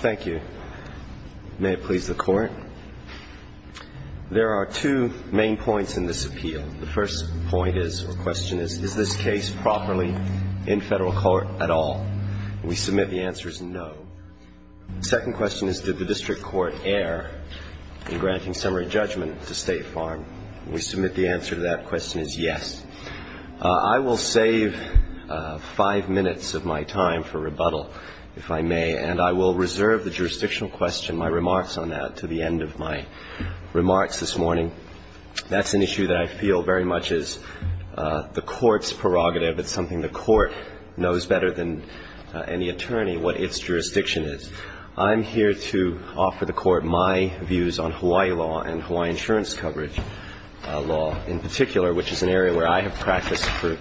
Thank you. May it please the Court. There are two main points in this appeal. The first point is, or question is, is this case properly in Federal court at all? We submit the answer is no. The second question is, did the district court err in granting summary judgment to State Farm? We submit the answer to that question is yes. I will save five minutes of my time for rebuttal, if I may, and I will reserve the jurisdictional question, my remarks on that, to the end of my remarks this morning. That's an issue that I feel very much is the Court's prerogative. It's something the Court knows better than any attorney what its jurisdiction is. I'm here to offer the Court my views on Hawaii law and Hawaiian insurance coverage law in particular, which is an area where I have practiced for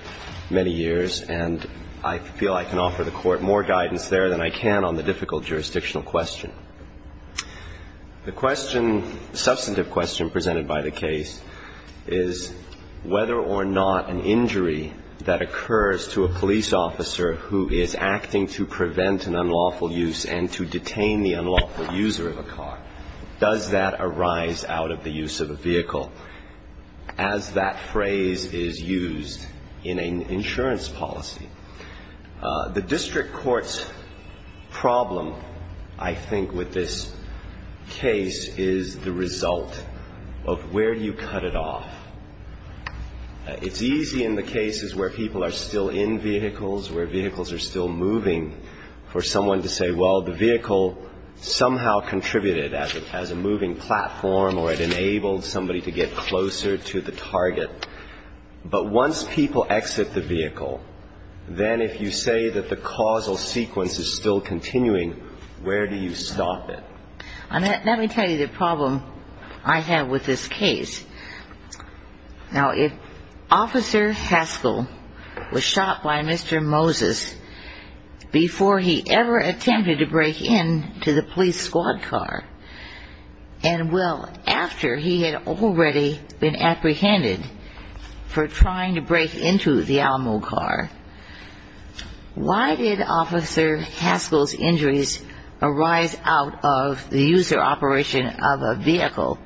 many years, and I feel I can offer the Court more guidance there than I can on the difficult jurisdictional question. The question, substantive question presented by the case, is whether or not an injury that occurs to a police officer who is acting to prevent an unlawful use and to detain the unlawful user of a car, does that arise out of the use of a vehicle, as that phrase is used in an insurance policy? The district court's problem, I think, with this case is the result of where you cut it off. It's easy in the cases where people are still in vehicles, where vehicles are still moving, for someone to say, well, the vehicle somehow contributed as a moving platform or it enabled somebody to get closer to the target. But once people exit the vehicle, then if you say that the causal sequence is still continuing, where do you stop it? Now, let me tell you the problem I have with this case. Now, if Officer Haskell was shot by Mr. Moses before he ever attempted to break into the police squad car, and well, after he had already been apprehended for trying to break into the Alamo car, why did Officer Haskell's injuries arise out of the use of a vehicle? The user operation of a vehicle,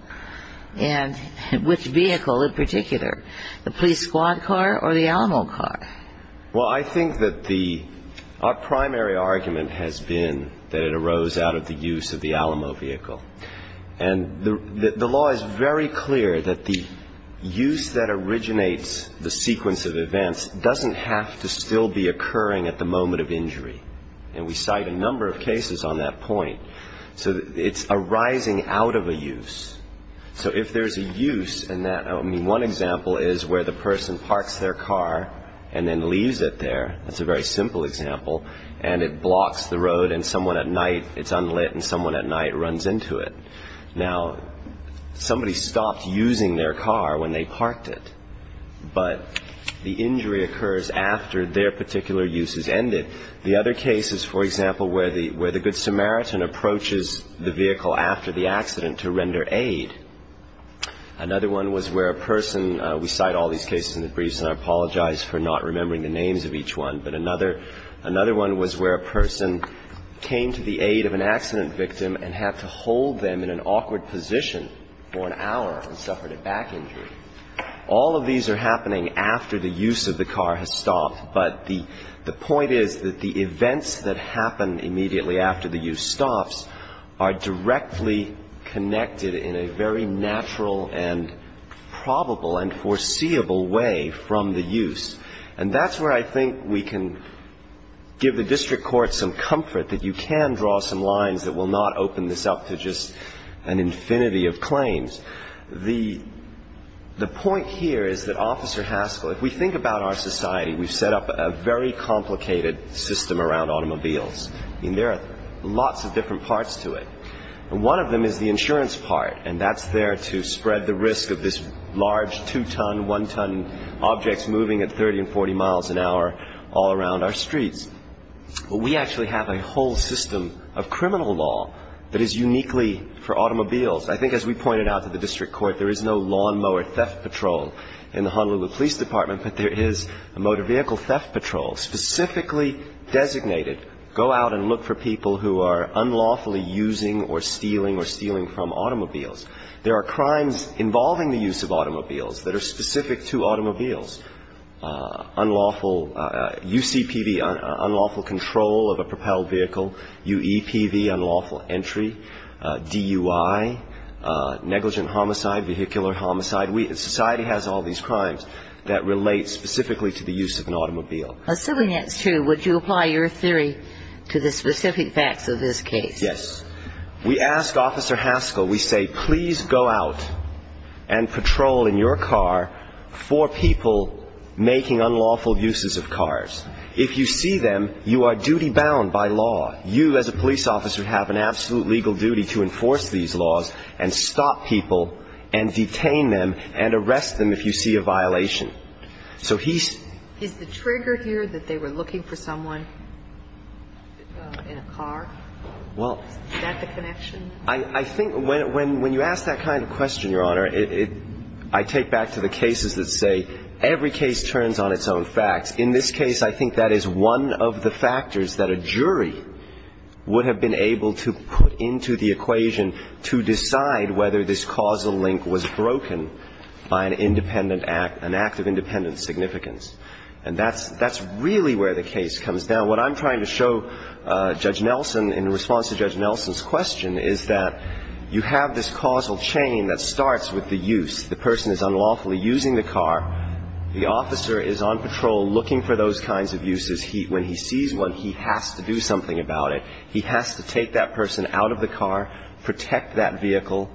and which vehicle in particular? The police squad car or the Alamo car? Well, I think that our primary argument has been that it arose out of the use of the Alamo vehicle. And the law is very clear that the use that originates the sequence of events doesn't have to still be occurring at the moment of injury. And we cite a number of cases on that point. So it's arising out of a use. So if there's a use in that, I mean, one example is where the person parks their car and then leaves it there. That's a very simple example. And it blocks the road, and someone at night, it's unlit, and someone at night runs into it. Now, somebody stopped using their car when they parked it, but the injury occurs after their particular use has ended. The other case is, for example, where the Good Samaritan approaches the vehicle after the accident to render aid. Another one was where a person – we cite all these cases in the briefs, and I apologize for not remembering the names of each one. But another one was where a person came to the aid of an accident victim and had to hold them in an awkward position for an hour and suffered a back injury. All of these are happening after the use of the car has stopped. But the point is that the events that happen immediately after the use stops are directly connected in a very natural and probable and foreseeable way from the use. And that's where I think we can give the district court some comfort, that you can draw some lines that will not open this up to just an infinity of claims. The point here is that, Officer Haskell, if we think about our society, we've set up a very complicated system around automobiles. I mean, there are lots of different parts to it. One of them is the insurance part, and that's there to spread the risk of this large two-ton, one-ton object moving at 30 and 40 miles an hour all around our streets. But we actually have a whole system of criminal law that is uniquely for automobiles. I think as we pointed out to the district court, there is no lawnmower theft patrol in the Honolulu Police Department, but there is a motor vehicle theft patrol specifically designated to go out and look for people who are unlawfully using or stealing or stealing from automobiles. There are crimes involving the use of automobiles that are specific to automobiles. UCPV, unlawful control of a propelled vehicle. UEPV, unlawful entry. DUI, negligent homicide, vehicular homicide. Society has all these crimes that relate specifically to the use of an automobile. Assuming that's true, would you apply your theory to the specific facts of this case? Yes. We ask Officer Haskell, we say, please go out and patrol in your car for people making unlawful uses of cars. If you see them, you are duty-bound by law. You as a police officer have an absolute legal duty to enforce these laws and stop people and detain them and arrest them if you see a violation. So he's the trigger here that they were looking for someone in a car? Is that the connection? I think when you ask that kind of question, Your Honor, I take back to the cases that say every case turns on its own facts. In this case, I think that is one of the factors that a jury would have been able to put into the equation to decide whether this causal link was broken by an independent act, an act of independent significance. And that's really where the case comes down. Now, what I'm trying to show, Judge Nelson, in response to Judge Nelson's question, is that you have this causal chain that starts with the use. The person is unlawfully using the car. The officer is on patrol looking for those kinds of uses. When he sees one, he has to do something about it. He has to take that person out of the car, protect that vehicle,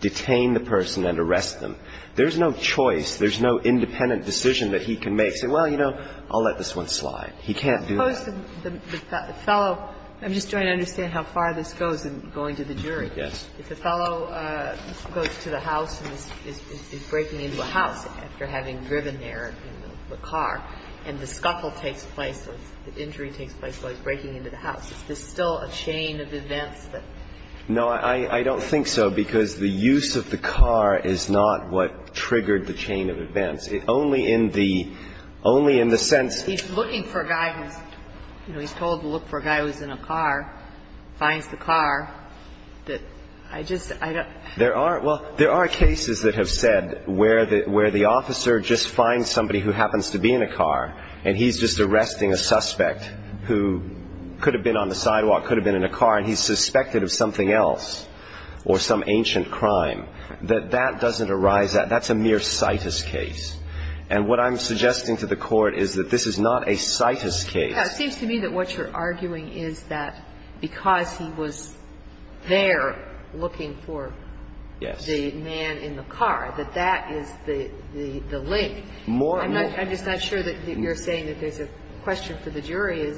detain the person and arrest them. There's no choice. There's no independent decision that he can make, say, well, you know, I'll let this one slide. He can't do that. The fellow – I'm just trying to understand how far this goes in going to the jury. Yes. If the fellow goes to the house and is breaking into a house after having driven there in the car and the scuffle takes place, the injury takes place while he's breaking into the house, is this still a chain of events that? No, I don't think so, because the use of the car is not what triggered the chain of events. Only in the sense – He's looking for a guy who's – you know, he's told to look for a guy who's in a car, finds the car. I just – I don't – There are – well, there are cases that have said where the officer just finds somebody who happens to be in a car and he's just arresting a suspect who could have been on the sidewalk, could have been in a car, and he's suspected of something else or some ancient crime, that that doesn't arise. That's a mere citus case. And what I'm suggesting to the Court is that this is not a citus case. It seems to me that what you're arguing is that because he was there looking for the man in the car, that that is the link. More – I'm just not sure that you're saying that there's a question for the jury.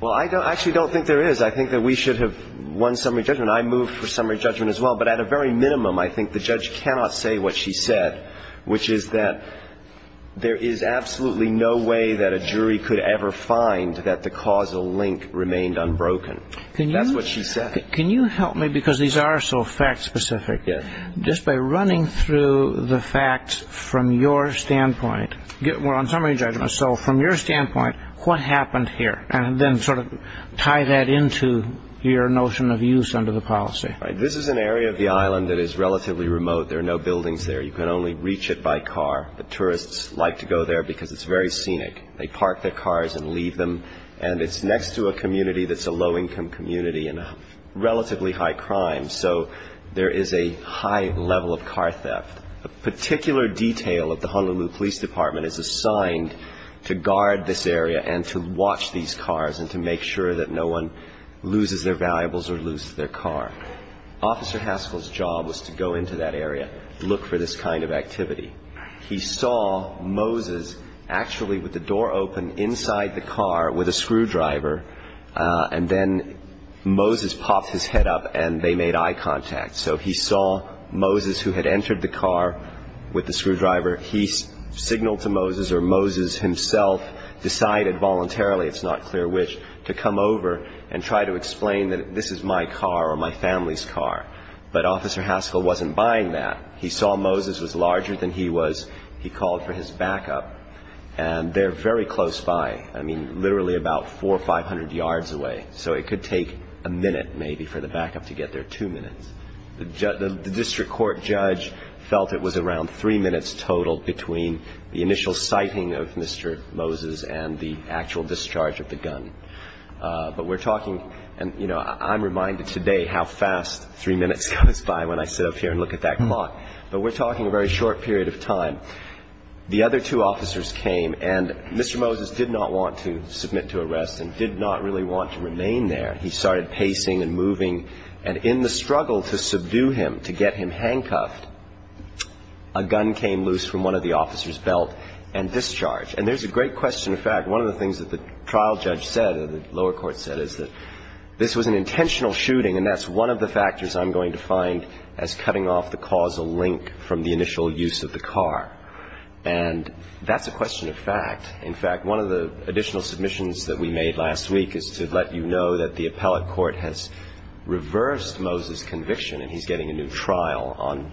Well, I actually don't think there is. I think that we should have won summary judgment. I moved for summary judgment as well. But at a very minimum, I think the judge cannot say what she said, which is that there is absolutely no way that a jury could ever find that the causal link remained unbroken. That's what she said. Can you help me? Because these are so fact-specific. Yes. Just by running through the facts from your standpoint – well, on summary judgment. So from your standpoint, what happened here? And then sort of tie that into your notion of use under the policy. This is an area of the island that is relatively remote. There are no buildings there. You can only reach it by car. The tourists like to go there because it's very scenic. They park their cars and leave them. And it's next to a community that's a low-income community and a relatively high crime. So there is a high level of car theft. A particular detail of the Honolulu Police Department is assigned to guard this area and to watch these cars and to make sure that no one loses their valuables or loses their car. Officer Haskell's job was to go into that area, look for this kind of activity. He saw Moses actually with the door open inside the car with a screwdriver, and then Moses popped his head up and they made eye contact. So he saw Moses, who had entered the car with the screwdriver. He signaled to Moses, or Moses himself decided voluntarily, it's not clear which, to come over and try to explain that this is my car or my family's car. But Officer Haskell wasn't buying that. He saw Moses was larger than he was. He called for his backup. And they're very close by, I mean, literally about 400 or 500 yards away. So it could take a minute maybe for the backup to get there, two minutes. The district court judge felt it was around three minutes total between the initial sighting of Mr. Moses and the actual discharge of the gun. But we're talking, and, you know, I'm reminded today how fast three minutes goes by when I sit up here and look at that clock. But we're talking a very short period of time. The other two officers came, and Mr. Moses did not want to submit to arrest and did not really want to remain there. He started pacing and moving. And in the struggle to subdue him, to get him handcuffed, a gun came loose from one of the officers' belt and discharged. And there's a great question of fact. One of the things that the trial judge said or the lower court said is that this was an intentional shooting, and that's one of the factors I'm going to find as cutting off the causal link from the initial use of the car. And that's a question of fact. In fact, one of the additional submissions that we made last week is to let you know that the appellate court has reversed Moses' conviction, and he's getting a new trial on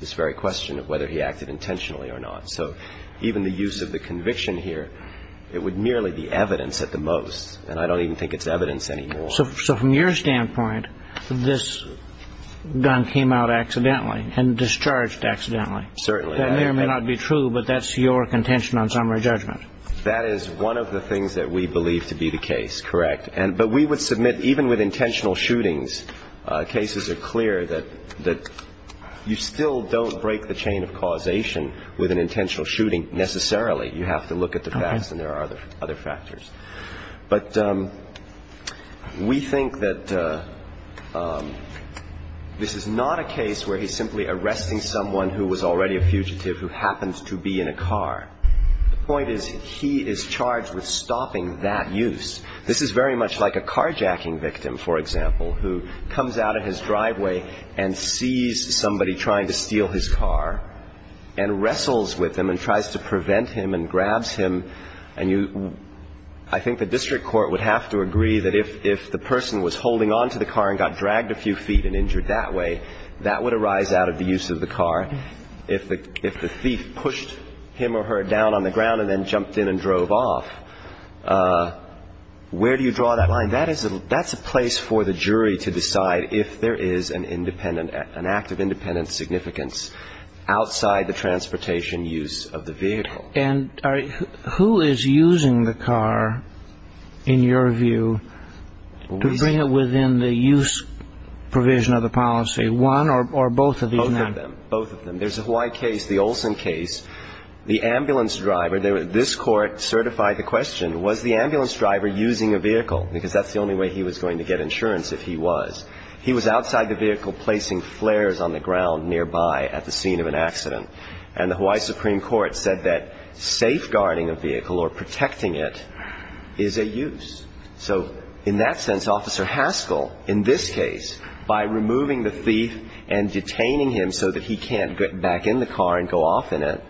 this very question of whether he acted intentionally or not. So even the use of the conviction here, it would merely be evidence at the most. And I don't even think it's evidence anymore. So from your standpoint, this gun came out accidentally and discharged accidentally. Certainly. That may or may not be true, but that's your contention on summary judgment. That is one of the things that we believe to be the case, correct. But we would submit, even with intentional shootings, cases are clear that you still don't break the chain of causation with an intentional shooting necessarily. You have to look at the facts and there are other factors. But we think that this is not a case where he's simply arresting someone who was already a fugitive who happens to be in a car. The point is he is charged with stopping that use. This is very much like a carjacking victim, for example, who comes out of his driveway and sees somebody trying to steal his car and wrestles with him and tries to prevent him and grabs him. And I think the district court would have to agree that if the person was holding onto the car and got dragged a few feet and injured that way, that would arise out of the use of the car. If the thief pushed him or her down on the ground and then jumped in and drove off, where do you draw that line? And that's a place for the jury to decide if there is an act of independent significance outside the transportation use of the vehicle. And who is using the car, in your view, to bring it within the use provision of the policy? One or both of these men? Both of them. There's a Hawaii case, the Olson case. The ambulance driver, this court certified the question, was the ambulance driver using a vehicle? Because that's the only way he was going to get insurance if he was. He was outside the vehicle placing flares on the ground nearby at the scene of an accident. And the Hawaii Supreme Court said that safeguarding a vehicle or protecting it is a use. So in that sense, Officer Haskell, in this case, by removing the thief and detaining him so that he can't get back in the car and go off in it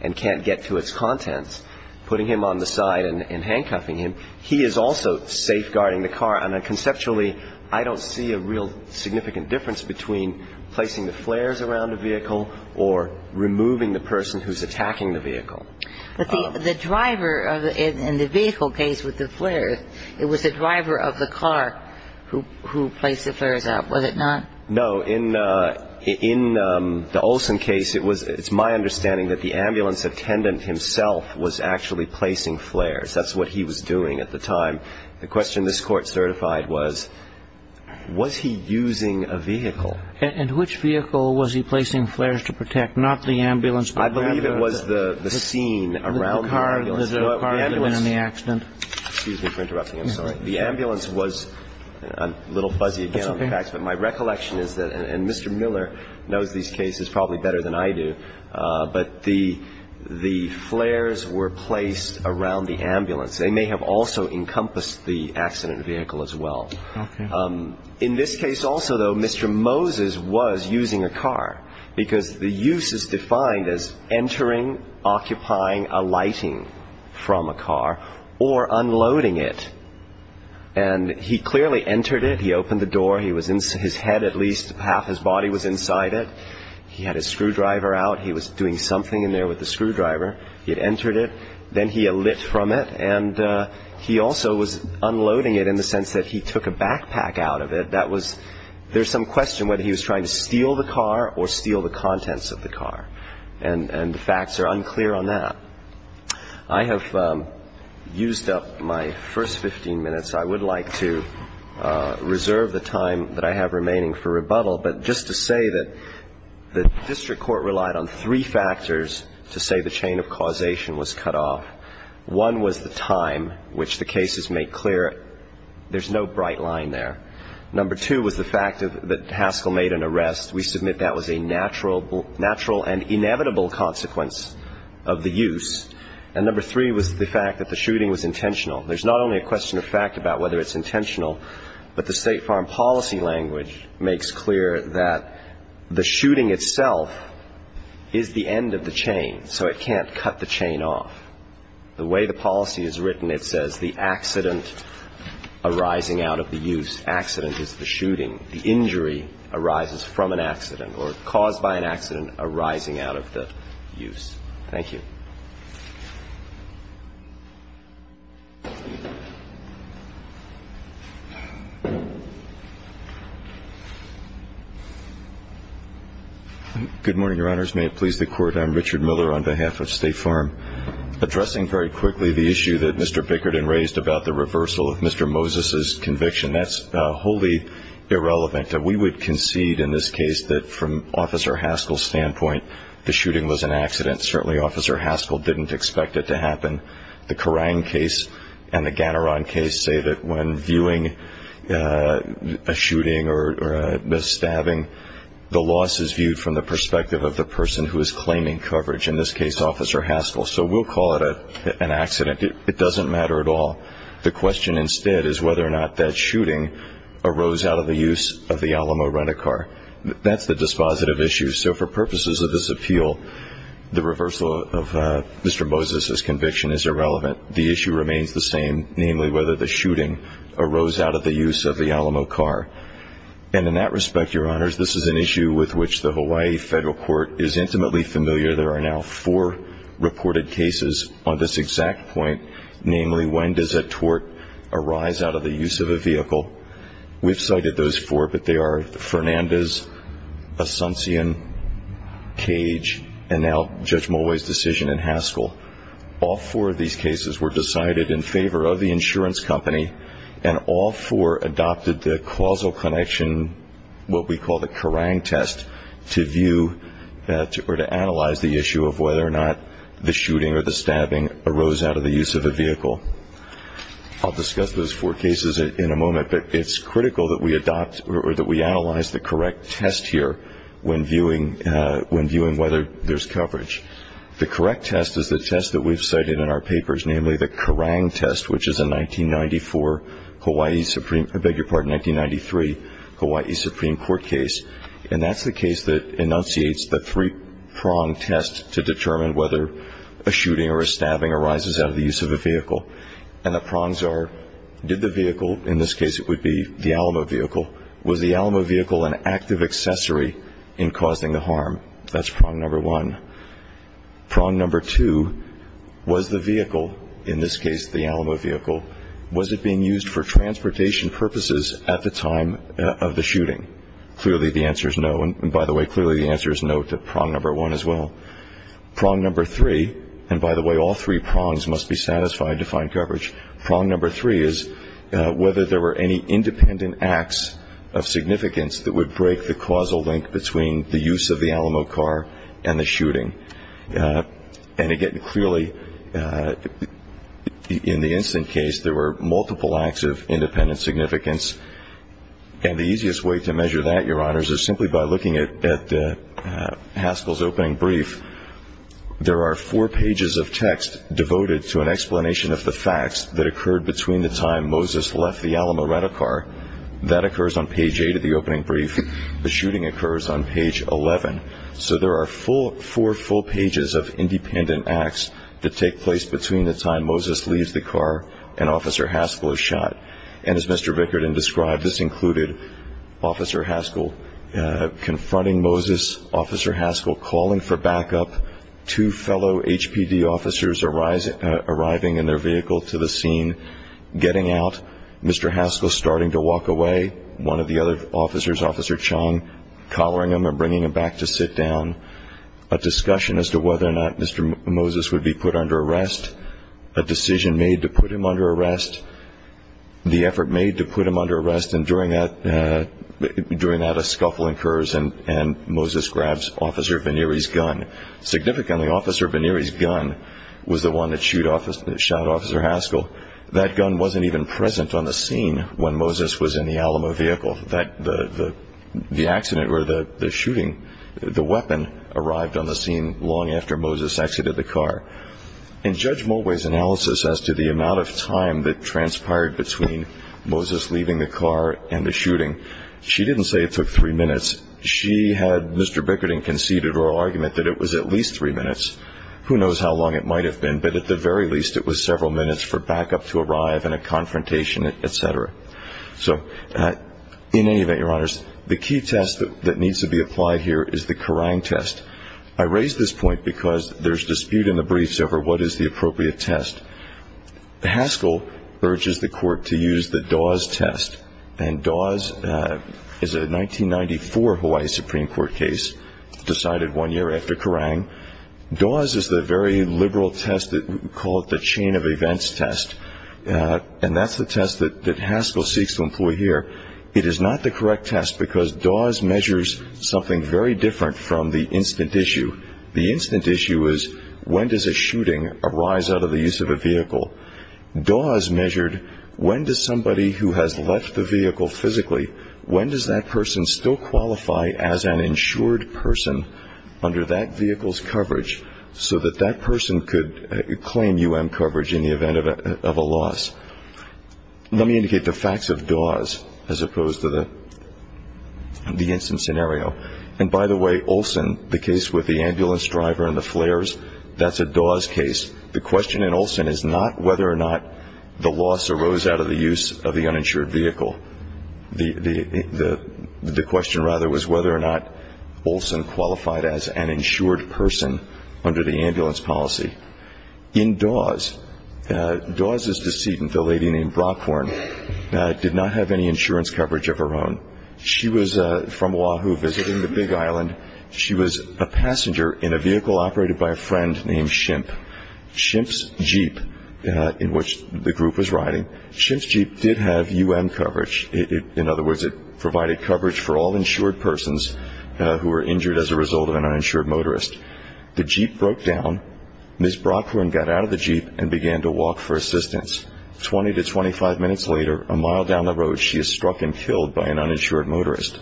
and can't get to its contents, putting him on the side and handcuffing him, he is also safeguarding the car. And conceptually, I don't see a real significant difference between placing the flares around a vehicle or removing the person who's attacking the vehicle. But the driver in the vehicle case with the flares, it was the driver of the car who placed the flares out, was it not? No. In the Olson case, it's my understanding that the ambulance attendant himself was actually placing flares. That's what he was doing at the time. The question this court certified was, was he using a vehicle? And which vehicle was he placing flares to protect, not the ambulance? I believe it was the scene around the ambulance. The car in the accident. Excuse me for interrupting. I'm sorry. The ambulance was – I'm a little fuzzy again on the facts. But my recollection is that – and Mr. Miller knows these cases probably better than I do. But the flares were placed around the ambulance. They may have also encompassed the accident vehicle as well. Okay. In this case also, though, Mr. Moses was using a car because the use is defined as entering, occupying a lighting from a car or unloading it. And he clearly entered it. He opened the door. His head at least half his body was inside it. He had his screwdriver out. He was doing something in there with the screwdriver. He had entered it. Then he alit from it. And he also was unloading it in the sense that he took a backpack out of it. That was – there's some question whether he was trying to steal the car or steal the contents of the car. And the facts are unclear on that. I have used up my first 15 minutes. I would like to reserve the time that I have remaining for rebuttal. But just to say that the district court relied on three factors to say the chain of causation was cut off. One was the time which the cases make clear. There's no bright line there. Number two was the fact that Haskell made an arrest. We submit that was a natural and inevitable consequence of the use. And number three was the fact that the shooting was intentional. There's not only a question of fact about whether it's intentional, but the State Farm policy language makes clear that the shooting itself is the end of the chain. So it can't cut the chain off. The way the policy is written, it says the accident arising out of the use. Accident is the shooting. The injury arises from an accident or caused by an accident arising out of the use. Thank you. Good morning, Your Honors. May it please the Court. I'm Richard Miller on behalf of State Farm. Addressing very quickly the issue that Mr. Bickerton raised about the reversal of Mr. Moses' conviction, that's wholly irrelevant. We would concede in this case that from Officer Haskell's standpoint, the shooting was an accident. Certainly Officer Haskell didn't expect it to happen. The Kerang case and the Ganaron case say that when viewing a shooting or a stabbing, the loss is viewed from the perspective of the person who is claiming coverage, in this case Officer Haskell. So we'll call it an accident. It doesn't matter at all. The question instead is whether or not that shooting arose out of the use of the Alamo rent-a-car. That's the dispositive issue. So for purposes of this appeal, the reversal of Mr. Moses' conviction is irrelevant. The issue remains the same, namely whether the shooting arose out of the use of the Alamo car. And in that respect, Your Honors, this is an issue with which the Hawaii Federal Court is intimately familiar. There are now four reported cases on this exact point, namely when does a tort arise out of the use of a vehicle. We've cited those four, but they are Fernandez, Asuncion, Cage, and now Judge Mulway's decision in Haskell. All four of these cases were decided in favor of the insurance company, and all four adopted the causal connection, what we call the Kerang test, to view or to analyze the issue of whether or not the shooting or the stabbing arose out of the use of a vehicle. I'll discuss those four cases in a moment, but it's critical that we adopt or that we analyze the correct test here when viewing whether there's coverage. The correct test is the test that we've cited in our papers, namely the Kerang test, which is a 1993 Hawaii Supreme Court case, and that's the case that enunciates the three-prong test to determine whether a shooting or a stabbing arises out of the use of a vehicle. And the prongs are, did the vehicle, in this case it would be the Alamo vehicle, was the Alamo vehicle an active accessory in causing the harm? That's prong number one. Prong number two, was the vehicle, in this case the Alamo vehicle, was it being used for transportation purposes at the time of the shooting? Clearly the answer is no, and by the way, clearly the answer is no to prong number one as well. Prong number three, and by the way, all three prongs must be satisfied to find coverage. Prong number three is whether there were any independent acts of significance that would break the causal link between the use of the Alamo car and the shooting. And again, clearly in the instant case, there were multiple acts of independent significance, and the easiest way to measure that, Your Honors, is simply by looking at Haskell's opening brief. There are four pages of text devoted to an explanation of the facts that occurred between the time Moses left the Alamo rent-a-car. That occurs on page 8 of the opening brief. The shooting occurs on page 11. So there are four full pages of independent acts that take place between the time Moses leaves the car and Officer Haskell is shot. And as Mr. Bickerton described, this included Officer Haskell confronting Moses, Officer Haskell calling for backup, two fellow HPD officers arriving in their vehicle to the scene, getting out. Mr. Haskell starting to walk away. One of the other officers, Officer Chong, collaring him and bringing him back to sit down. A discussion as to whether or not Mr. Moses would be put under arrest. A decision made to put him under arrest. The effort made to put him under arrest. And during that, a scuffle occurs, and Moses grabs Officer Veneri's gun. Significantly, Officer Veneri's gun was the one that shot Officer Haskell. That gun wasn't even present on the scene when Moses was in the Alamo vehicle. The accident or the shooting, the weapon arrived on the scene long after Moses exited the car. In Judge Mulway's analysis as to the amount of time that transpired between Moses leaving the car and the shooting, she didn't say it took three minutes. She had Mr. Bickerton conceded her argument that it was at least three minutes. Who knows how long it might have been, but at the very least it was several minutes for backup to arrive and a confrontation, etc. So in any event, Your Honors, the key test that needs to be applied here is the Kerrang test. I raise this point because there's dispute in the briefs over what is the appropriate test. Haskell urges the court to use the Dawes test. And Dawes is a 1994 Hawaii Supreme Court case decided one year after Kerrang. Dawes is the very liberal test that we call the chain of events test, and that's the test that Haskell seeks to employ here. It is not the correct test because Dawes measures something very different from the instant issue. The instant issue is when does a shooting arise out of the use of a vehicle? Dawes measured when does somebody who has left the vehicle physically, when does that person still qualify as an insured person under that vehicle's coverage so that that person could claim U.M. coverage in the event of a loss? Let me indicate the facts of Dawes as opposed to the instant scenario. And by the way, Olson, the case with the ambulance driver and the flares, that's a Dawes case. The question in Olson is not whether or not the loss arose out of the use of the uninsured vehicle. The question rather was whether or not Olson qualified as an insured person under the ambulance policy. In Dawes, Dawes' decedent, a lady named Brockhorn, did not have any insurance coverage of her own. She was from Oahu visiting the Big Island. She was a passenger in a vehicle operated by a friend named Shimp. Shimp's Jeep, in which the group was riding, Shimp's Jeep did have U.M. coverage. In other words, it provided coverage for all insured persons who were injured as a result of an uninsured motorist. The Jeep broke down. Ms. Brockhorn got out of the Jeep and began to walk for assistance. Twenty to 25 minutes later, a mile down the road, she is struck and killed by an uninsured motorist.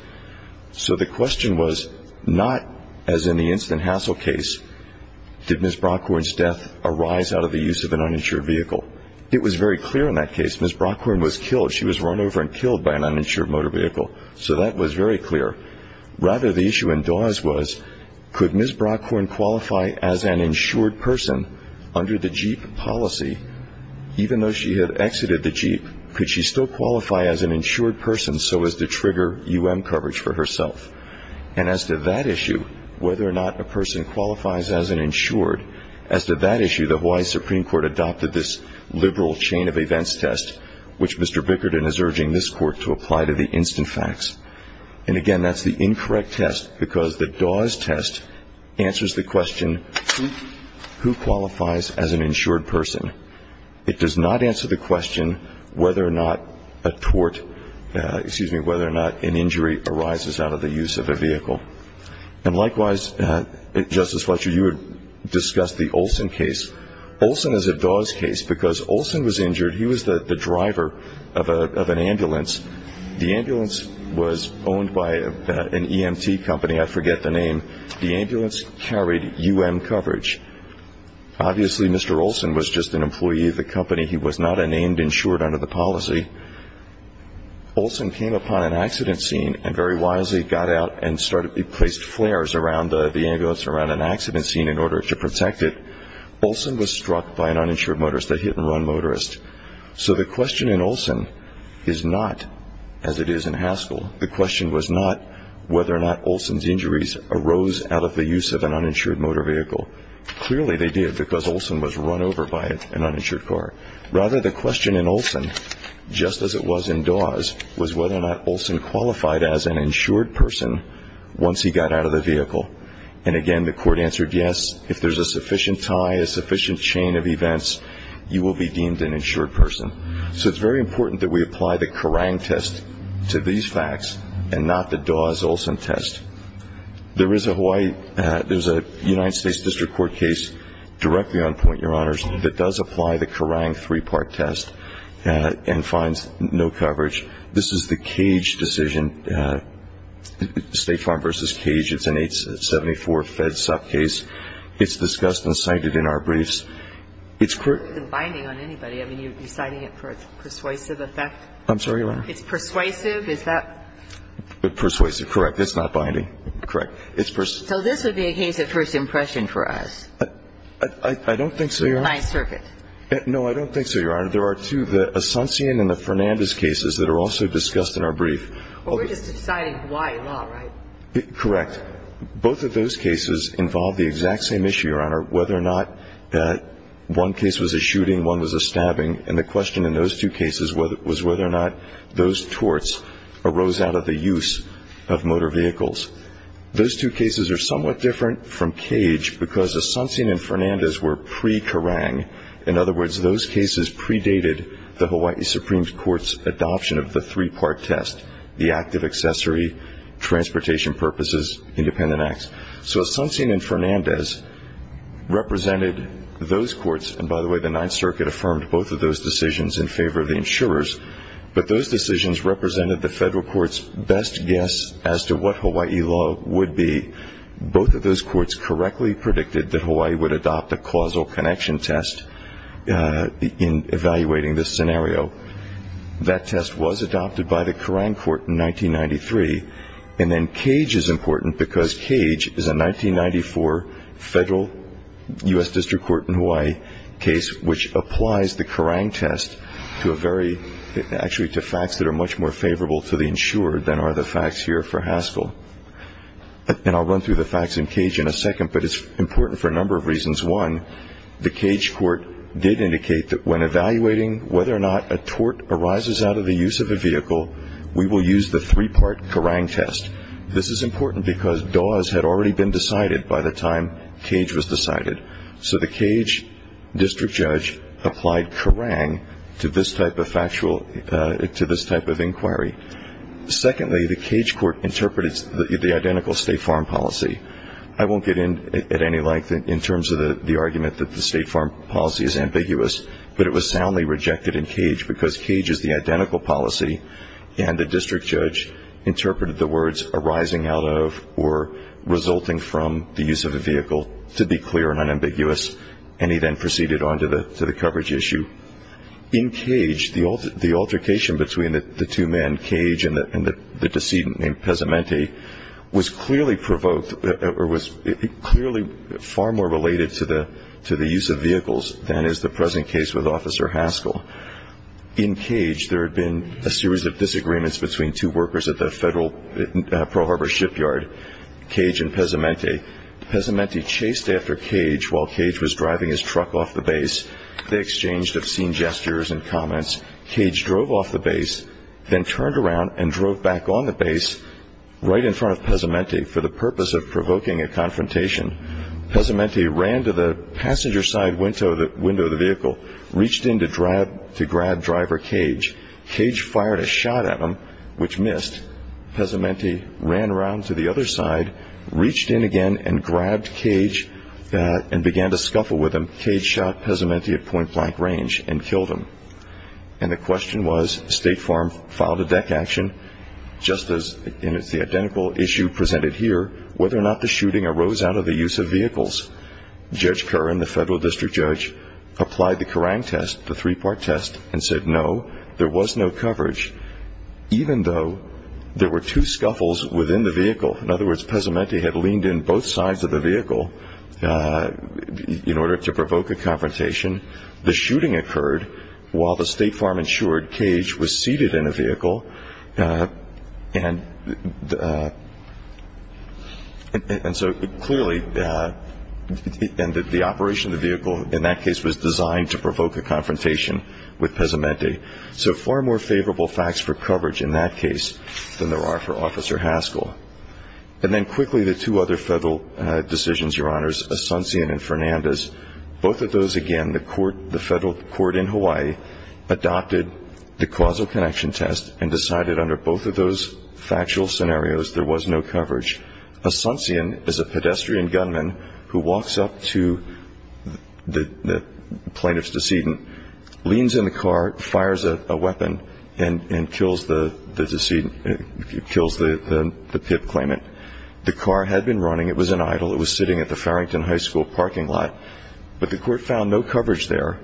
So the question was not, as in the instant hassle case, did Ms. Brockhorn's death arise out of the use of an uninsured vehicle. It was very clear in that case. Ms. Brockhorn was killed. She was run over and killed by an uninsured motor vehicle. So that was very clear. Rather, the issue in Dawes was could Ms. Brockhorn qualify as an insured person under the Jeep policy? Even though she had exited the Jeep, could she still qualify as an insured person so as to trigger U.M. coverage for herself? And as to that issue, whether or not a person qualifies as an insured, as to that issue, the Hawaii Supreme Court adopted this liberal chain of events test, which Mr. Bickerton is urging this Court to apply to the instant facts. And again, that's the incorrect test because the Dawes test answers the question, who qualifies as an insured person? It does not answer the question whether or not a tort, excuse me, whether or not an injury arises out of the use of a vehicle. And likewise, Justice Fletcher, you had discussed the Olson case. Olson is a Dawes case because Olson was injured. He was the driver of an ambulance. The ambulance was owned by an EMT company. I forget the name. The ambulance carried U.M. coverage. Obviously, Mr. Olson was just an employee of the company. He was not a named insured under the policy. Olson came upon an accident scene and very wisely got out and placed flares around the ambulance around an accident scene in order to protect it. Olson was struck by an uninsured motorist, a hit-and-run motorist. So the question in Olson is not as it is in Haskell. The question was not whether or not Olson's injuries arose out of the use of an uninsured motor vehicle. Clearly, they did because Olson was run over by an uninsured car. Rather, the question in Olson, just as it was in Dawes, was whether or not Olson qualified as an insured person once he got out of the vehicle. And, again, the court answered yes. If there's a sufficient tie, a sufficient chain of events, you will be deemed an insured person. So it's very important that we apply the Kerrang test to these facts and not the Dawes-Olson test. There is a Hawaii ñ there's a United States District Court case directly on point, Your Honors, that does apply the Kerrang three-part test and finds no coverage. This is the Cage decision, State Farm versus Cage. It's an 874 Fed Suck case. It's discussed and cited in our briefs. It's ñ It's not binding on anybody. I mean, you're citing it for a persuasive effect. I'm sorry, Your Honor. It's persuasive. Is that ñ Persuasive, correct. It's not binding. Correct. It's ñ So this would be a case of first impression for us. I don't think so, Your Honor. By circuit. No, I don't think so, Your Honor. There are two, the Asuncion and the Fernandez cases that are also discussed in our brief. Well, we're just deciding Hawaii law, right? Correct. Now, both of those cases involve the exact same issue, Your Honor, whether or not one case was a shooting, one was a stabbing, and the question in those two cases was whether or not those torts arose out of the use of motor vehicles. Those two cases are somewhat different from Cage because Asuncion and Fernandez were pre-Kerrang. In other words, those cases predated the Hawaii Supreme Court's adoption of the three-part test, the active accessory, transportation purposes, independent acts. So Asuncion and Fernandez represented those courts, and by the way the Ninth Circuit affirmed both of those decisions in favor of the insurers, but those decisions represented the federal court's best guess as to what Hawaii law would be. Both of those courts correctly predicted that Hawaii would adopt a causal connection test in evaluating this scenario. That test was adopted by the Kerrang Court in 1993, and then Cage is important because Cage is a 1994 federal U.S. District Court in Hawaii case which applies the Kerrang test to facts that are much more favorable to the insurer than are the facts here for Haskell. And I'll run through the facts in Cage in a second, but it's important for a number of reasons. One, the Cage court did indicate that when evaluating whether or not a tort arises out of the use of a vehicle, we will use the three-part Kerrang test. This is important because Dawes had already been decided by the time Cage was decided. So the Cage district judge applied Kerrang to this type of factual, to this type of inquiry. Secondly, the Cage court interpreted the identical State Farm policy. I won't get in at any length in terms of the argument that the State Farm policy is ambiguous, but it was soundly rejected in Cage because Cage is the identical policy, and the district judge interpreted the words arising out of or resulting from the use of a vehicle to be clear and unambiguous, and he then proceeded on to the coverage issue. In Cage, the altercation between the two men, Cage and the decedent named Pesamente, was clearly provoked or was clearly far more related to the use of vehicles than is the present case with Officer Haskell. In Cage, there had been a series of disagreements between two workers at the Federal Pearl Harbor shipyard, Cage and Pesamente. Pesamente chased after Cage while Cage was driving his truck off the base. Cage drove off the base, then turned around and drove back on the base right in front of Pesamente for the purpose of provoking a confrontation. Pesamente ran to the passenger side window of the vehicle, reached in to grab driver Cage. Cage fired a shot at him, which missed. Pesamente ran around to the other side, reached in again and grabbed Cage and began to scuffle with him. Cage shot Pesamente at point-blank range and killed him. And the question was State Farm filed a deck action, just as in the identical issue presented here, whether or not the shooting arose out of the use of vehicles. Judge Curran, the Federal District Judge, applied the Kerrang test, the three-part test, and said no, there was no coverage, even though there were two scuffles within the vehicle. In other words, Pesamente had leaned in both sides of the vehicle in order to provoke a confrontation. The shooting occurred while the State Farm-insured Cage was seated in a vehicle. And so clearly the operation of the vehicle in that case was designed to provoke a confrontation with Pesamente. So far more favorable facts for coverage in that case than there are for Officer Haskell. And then quickly the two other Federal decisions, Your Honors, Asuncion and Fernandez. Both of those, again, the Federal Court in Hawaii adopted the causal connection test and decided under both of those factual scenarios there was no coverage. Asuncion is a pedestrian gunman who walks up to the plaintiff's decedent, leans in the car, fires a weapon, and kills the decedent, kills the PIP claimant. The car had been running. It was in idle. It was sitting at the Farrington High School parking lot. But the Court found no coverage there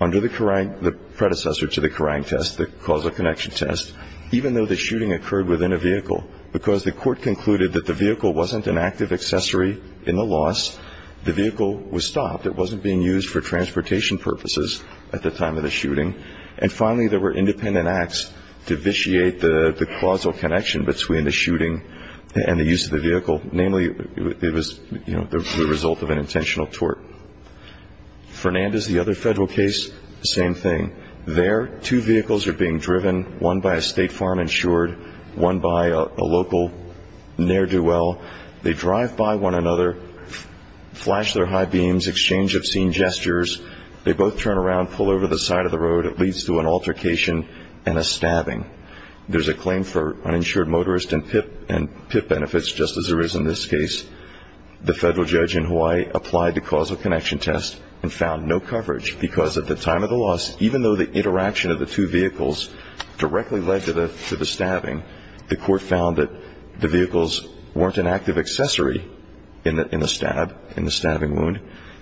under the predecessor to the Kerrang test, the causal connection test, even though the shooting occurred within a vehicle, because the Court concluded that the vehicle wasn't an active accessory in the loss. The vehicle was stopped. It wasn't being used for transportation purposes at the time of the shooting. And finally, there were independent acts to vitiate the causal connection between the shooting and the use of the vehicle, namely it was the result of an intentional tort. Fernandez, the other Federal case, same thing. There, two vehicles are being driven, one by a state farm insured, one by a local ne'er-do-well. They drive by one another, flash their high beams, exchange obscene gestures. They both turn around, pull over the side of the road. It leads to an altercation and a stabbing. There's a claim for uninsured motorist and PIP benefits, just as there is in this case. The Federal judge in Hawaii applied the causal connection test and found no coverage, because at the time of the loss, even though the interaction of the two vehicles directly led to the stabbing, the court found that the vehicles weren't an active accessory in the stab, in the stabbing wound.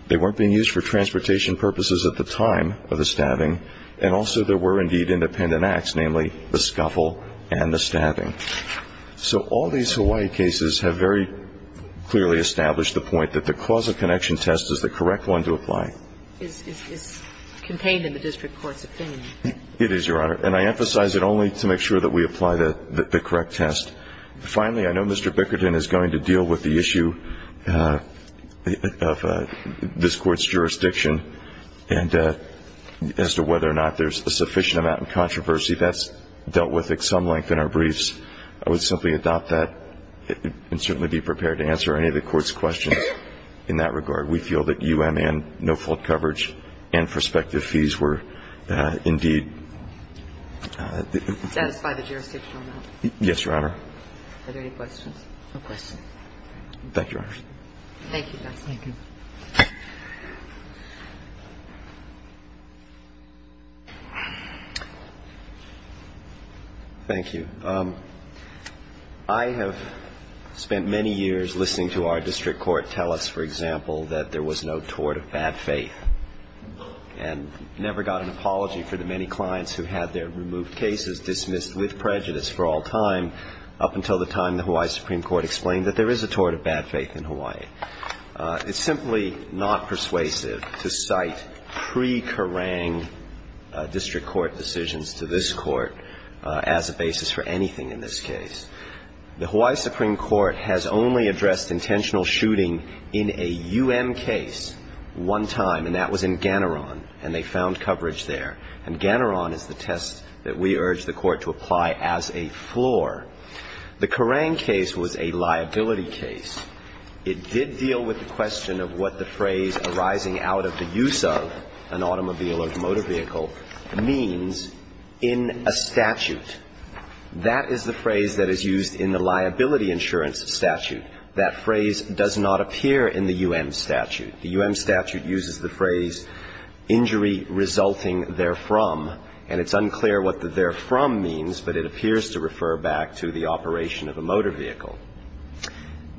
They weren't being used for transportation purposes at the time of the stabbing. And also there were, indeed, independent acts, namely the scuffle and the stabbing. So all these Hawaii cases have very clearly established the point that the causal connection test is the correct one to apply. It's contained in the district court's opinion. It is, Your Honor. And I emphasize it only to make sure that we apply the correct test. Finally, I know Mr. Bickerton is going to deal with the issue of this court's jurisdiction and as to whether or not there's a sufficient amount of controversy. That's dealt with at some length in our briefs. I would simply adopt that and certainly be prepared to answer any of the court's questions in that regard. We feel that U.M. and no-fault coverage and prospective fees were, indeed. Satisfy the jurisdictional amount. Yes, Your Honor. Are there any questions? No questions. Thank you, Your Honor. Thank you, Justice. Thank you. Thank you. I have spent many years listening to our district court tell us, for example, that there was no tort of bad faith and never got an apology for the many clients who had their removed cases dismissed with prejudice for all time, up until the time the Hawaii Supreme Court explained that there is a tort of bad faith in Hawaii. It's simply not persuasive to cite pre-Karang district court decisions to this court as a basis for anything in this case. The Hawaii Supreme Court has only addressed intentional shooting in a U.M. case one time, and that was in Ganaron, and they found coverage there. And Ganaron is the test that we urge the court to apply as a floor. The Karang case was a liability case. It did deal with the question of what the phrase arising out of the use of an automobile or motor vehicle means in a statute. That is the phrase that is used in the liability insurance statute. That phrase does not appear in the U.M. statute. The U.M. statute uses the phrase injury resulting therefrom, and it's unclear what the therefrom means, but it appears to refer back to the operation of a motor vehicle.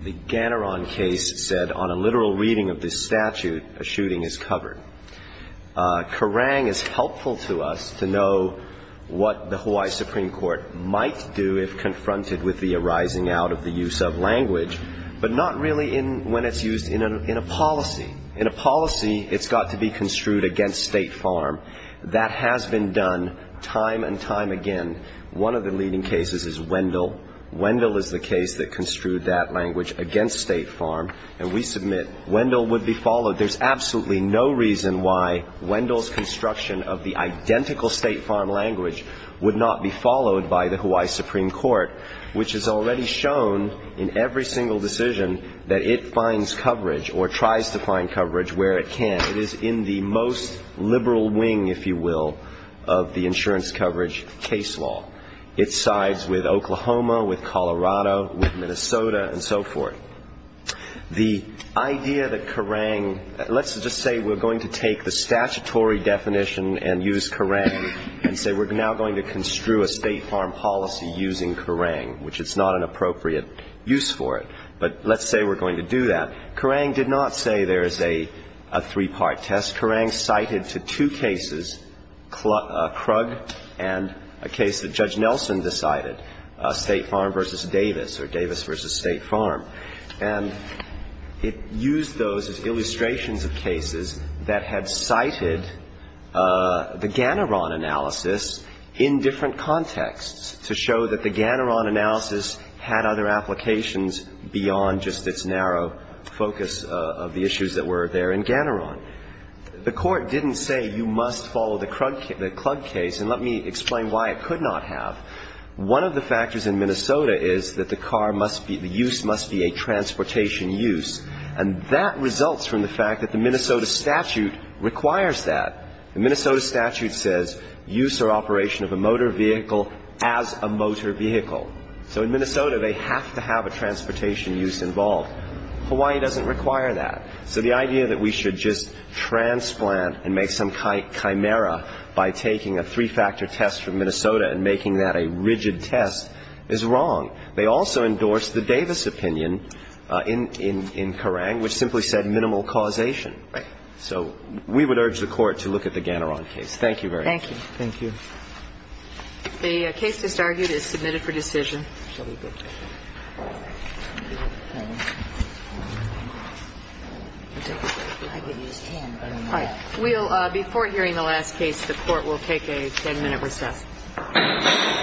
The Ganaron case said on a literal reading of this statute, a shooting is covered. Karang is helpful to us to know what the Hawaii Supreme Court might do if confronted with the arising out of the use of language, but not really when it's used in a policy. In a policy, it's got to be construed against State Farm. That has been done time and time again. One of the leading cases is Wendell. Wendell is the case that construed that language against State Farm, and we submit Wendell would be followed. But there's absolutely no reason why Wendell's construction of the identical State Farm language would not be followed by the Hawaii Supreme Court, which has already shown in every single decision that it finds coverage or tries to find coverage where it can. It is in the most liberal wing, if you will, of the insurance coverage case law. It sides with Oklahoma, with Colorado, with Minnesota, and so forth. The idea that Karang, let's just say we're going to take the statutory definition and use Karang and say we're now going to construe a State Farm policy using Karang, which it's not an appropriate use for it. But let's say we're going to do that. Karang did not say there is a three-part test. Karang cited to two cases Krug and a case that Judge Nelson decided, State Farm versus Davis or Davis versus State Farm. And it used those as illustrations of cases that had cited the Ganoron analysis in different contexts to show that the Ganoron analysis had other applications beyond just its narrow focus of the issues that were there in Ganoron. The Court didn't say you must follow the Krug case and let me explain why it could not have. One of the factors in Minnesota is that the car must be, the use must be a transportation use, and that results from the fact that the Minnesota statute requires that. The Minnesota statute says use or operation of a motor vehicle as a motor vehicle. So in Minnesota, they have to have a transportation use involved. Hawaii doesn't require that. So the idea that we should just transplant and make some chimera by taking a three-factor test from Minnesota and making that a rigid test is wrong. They also endorsed the Davis opinion in Karang, which simply said minimal causation. So we would urge the Court to look at the Ganoron case. Thank you very much. Thank you. Thank you. The case just argued is submitted for decision. Before hearing the last case, the Court will take a 10-minute recess.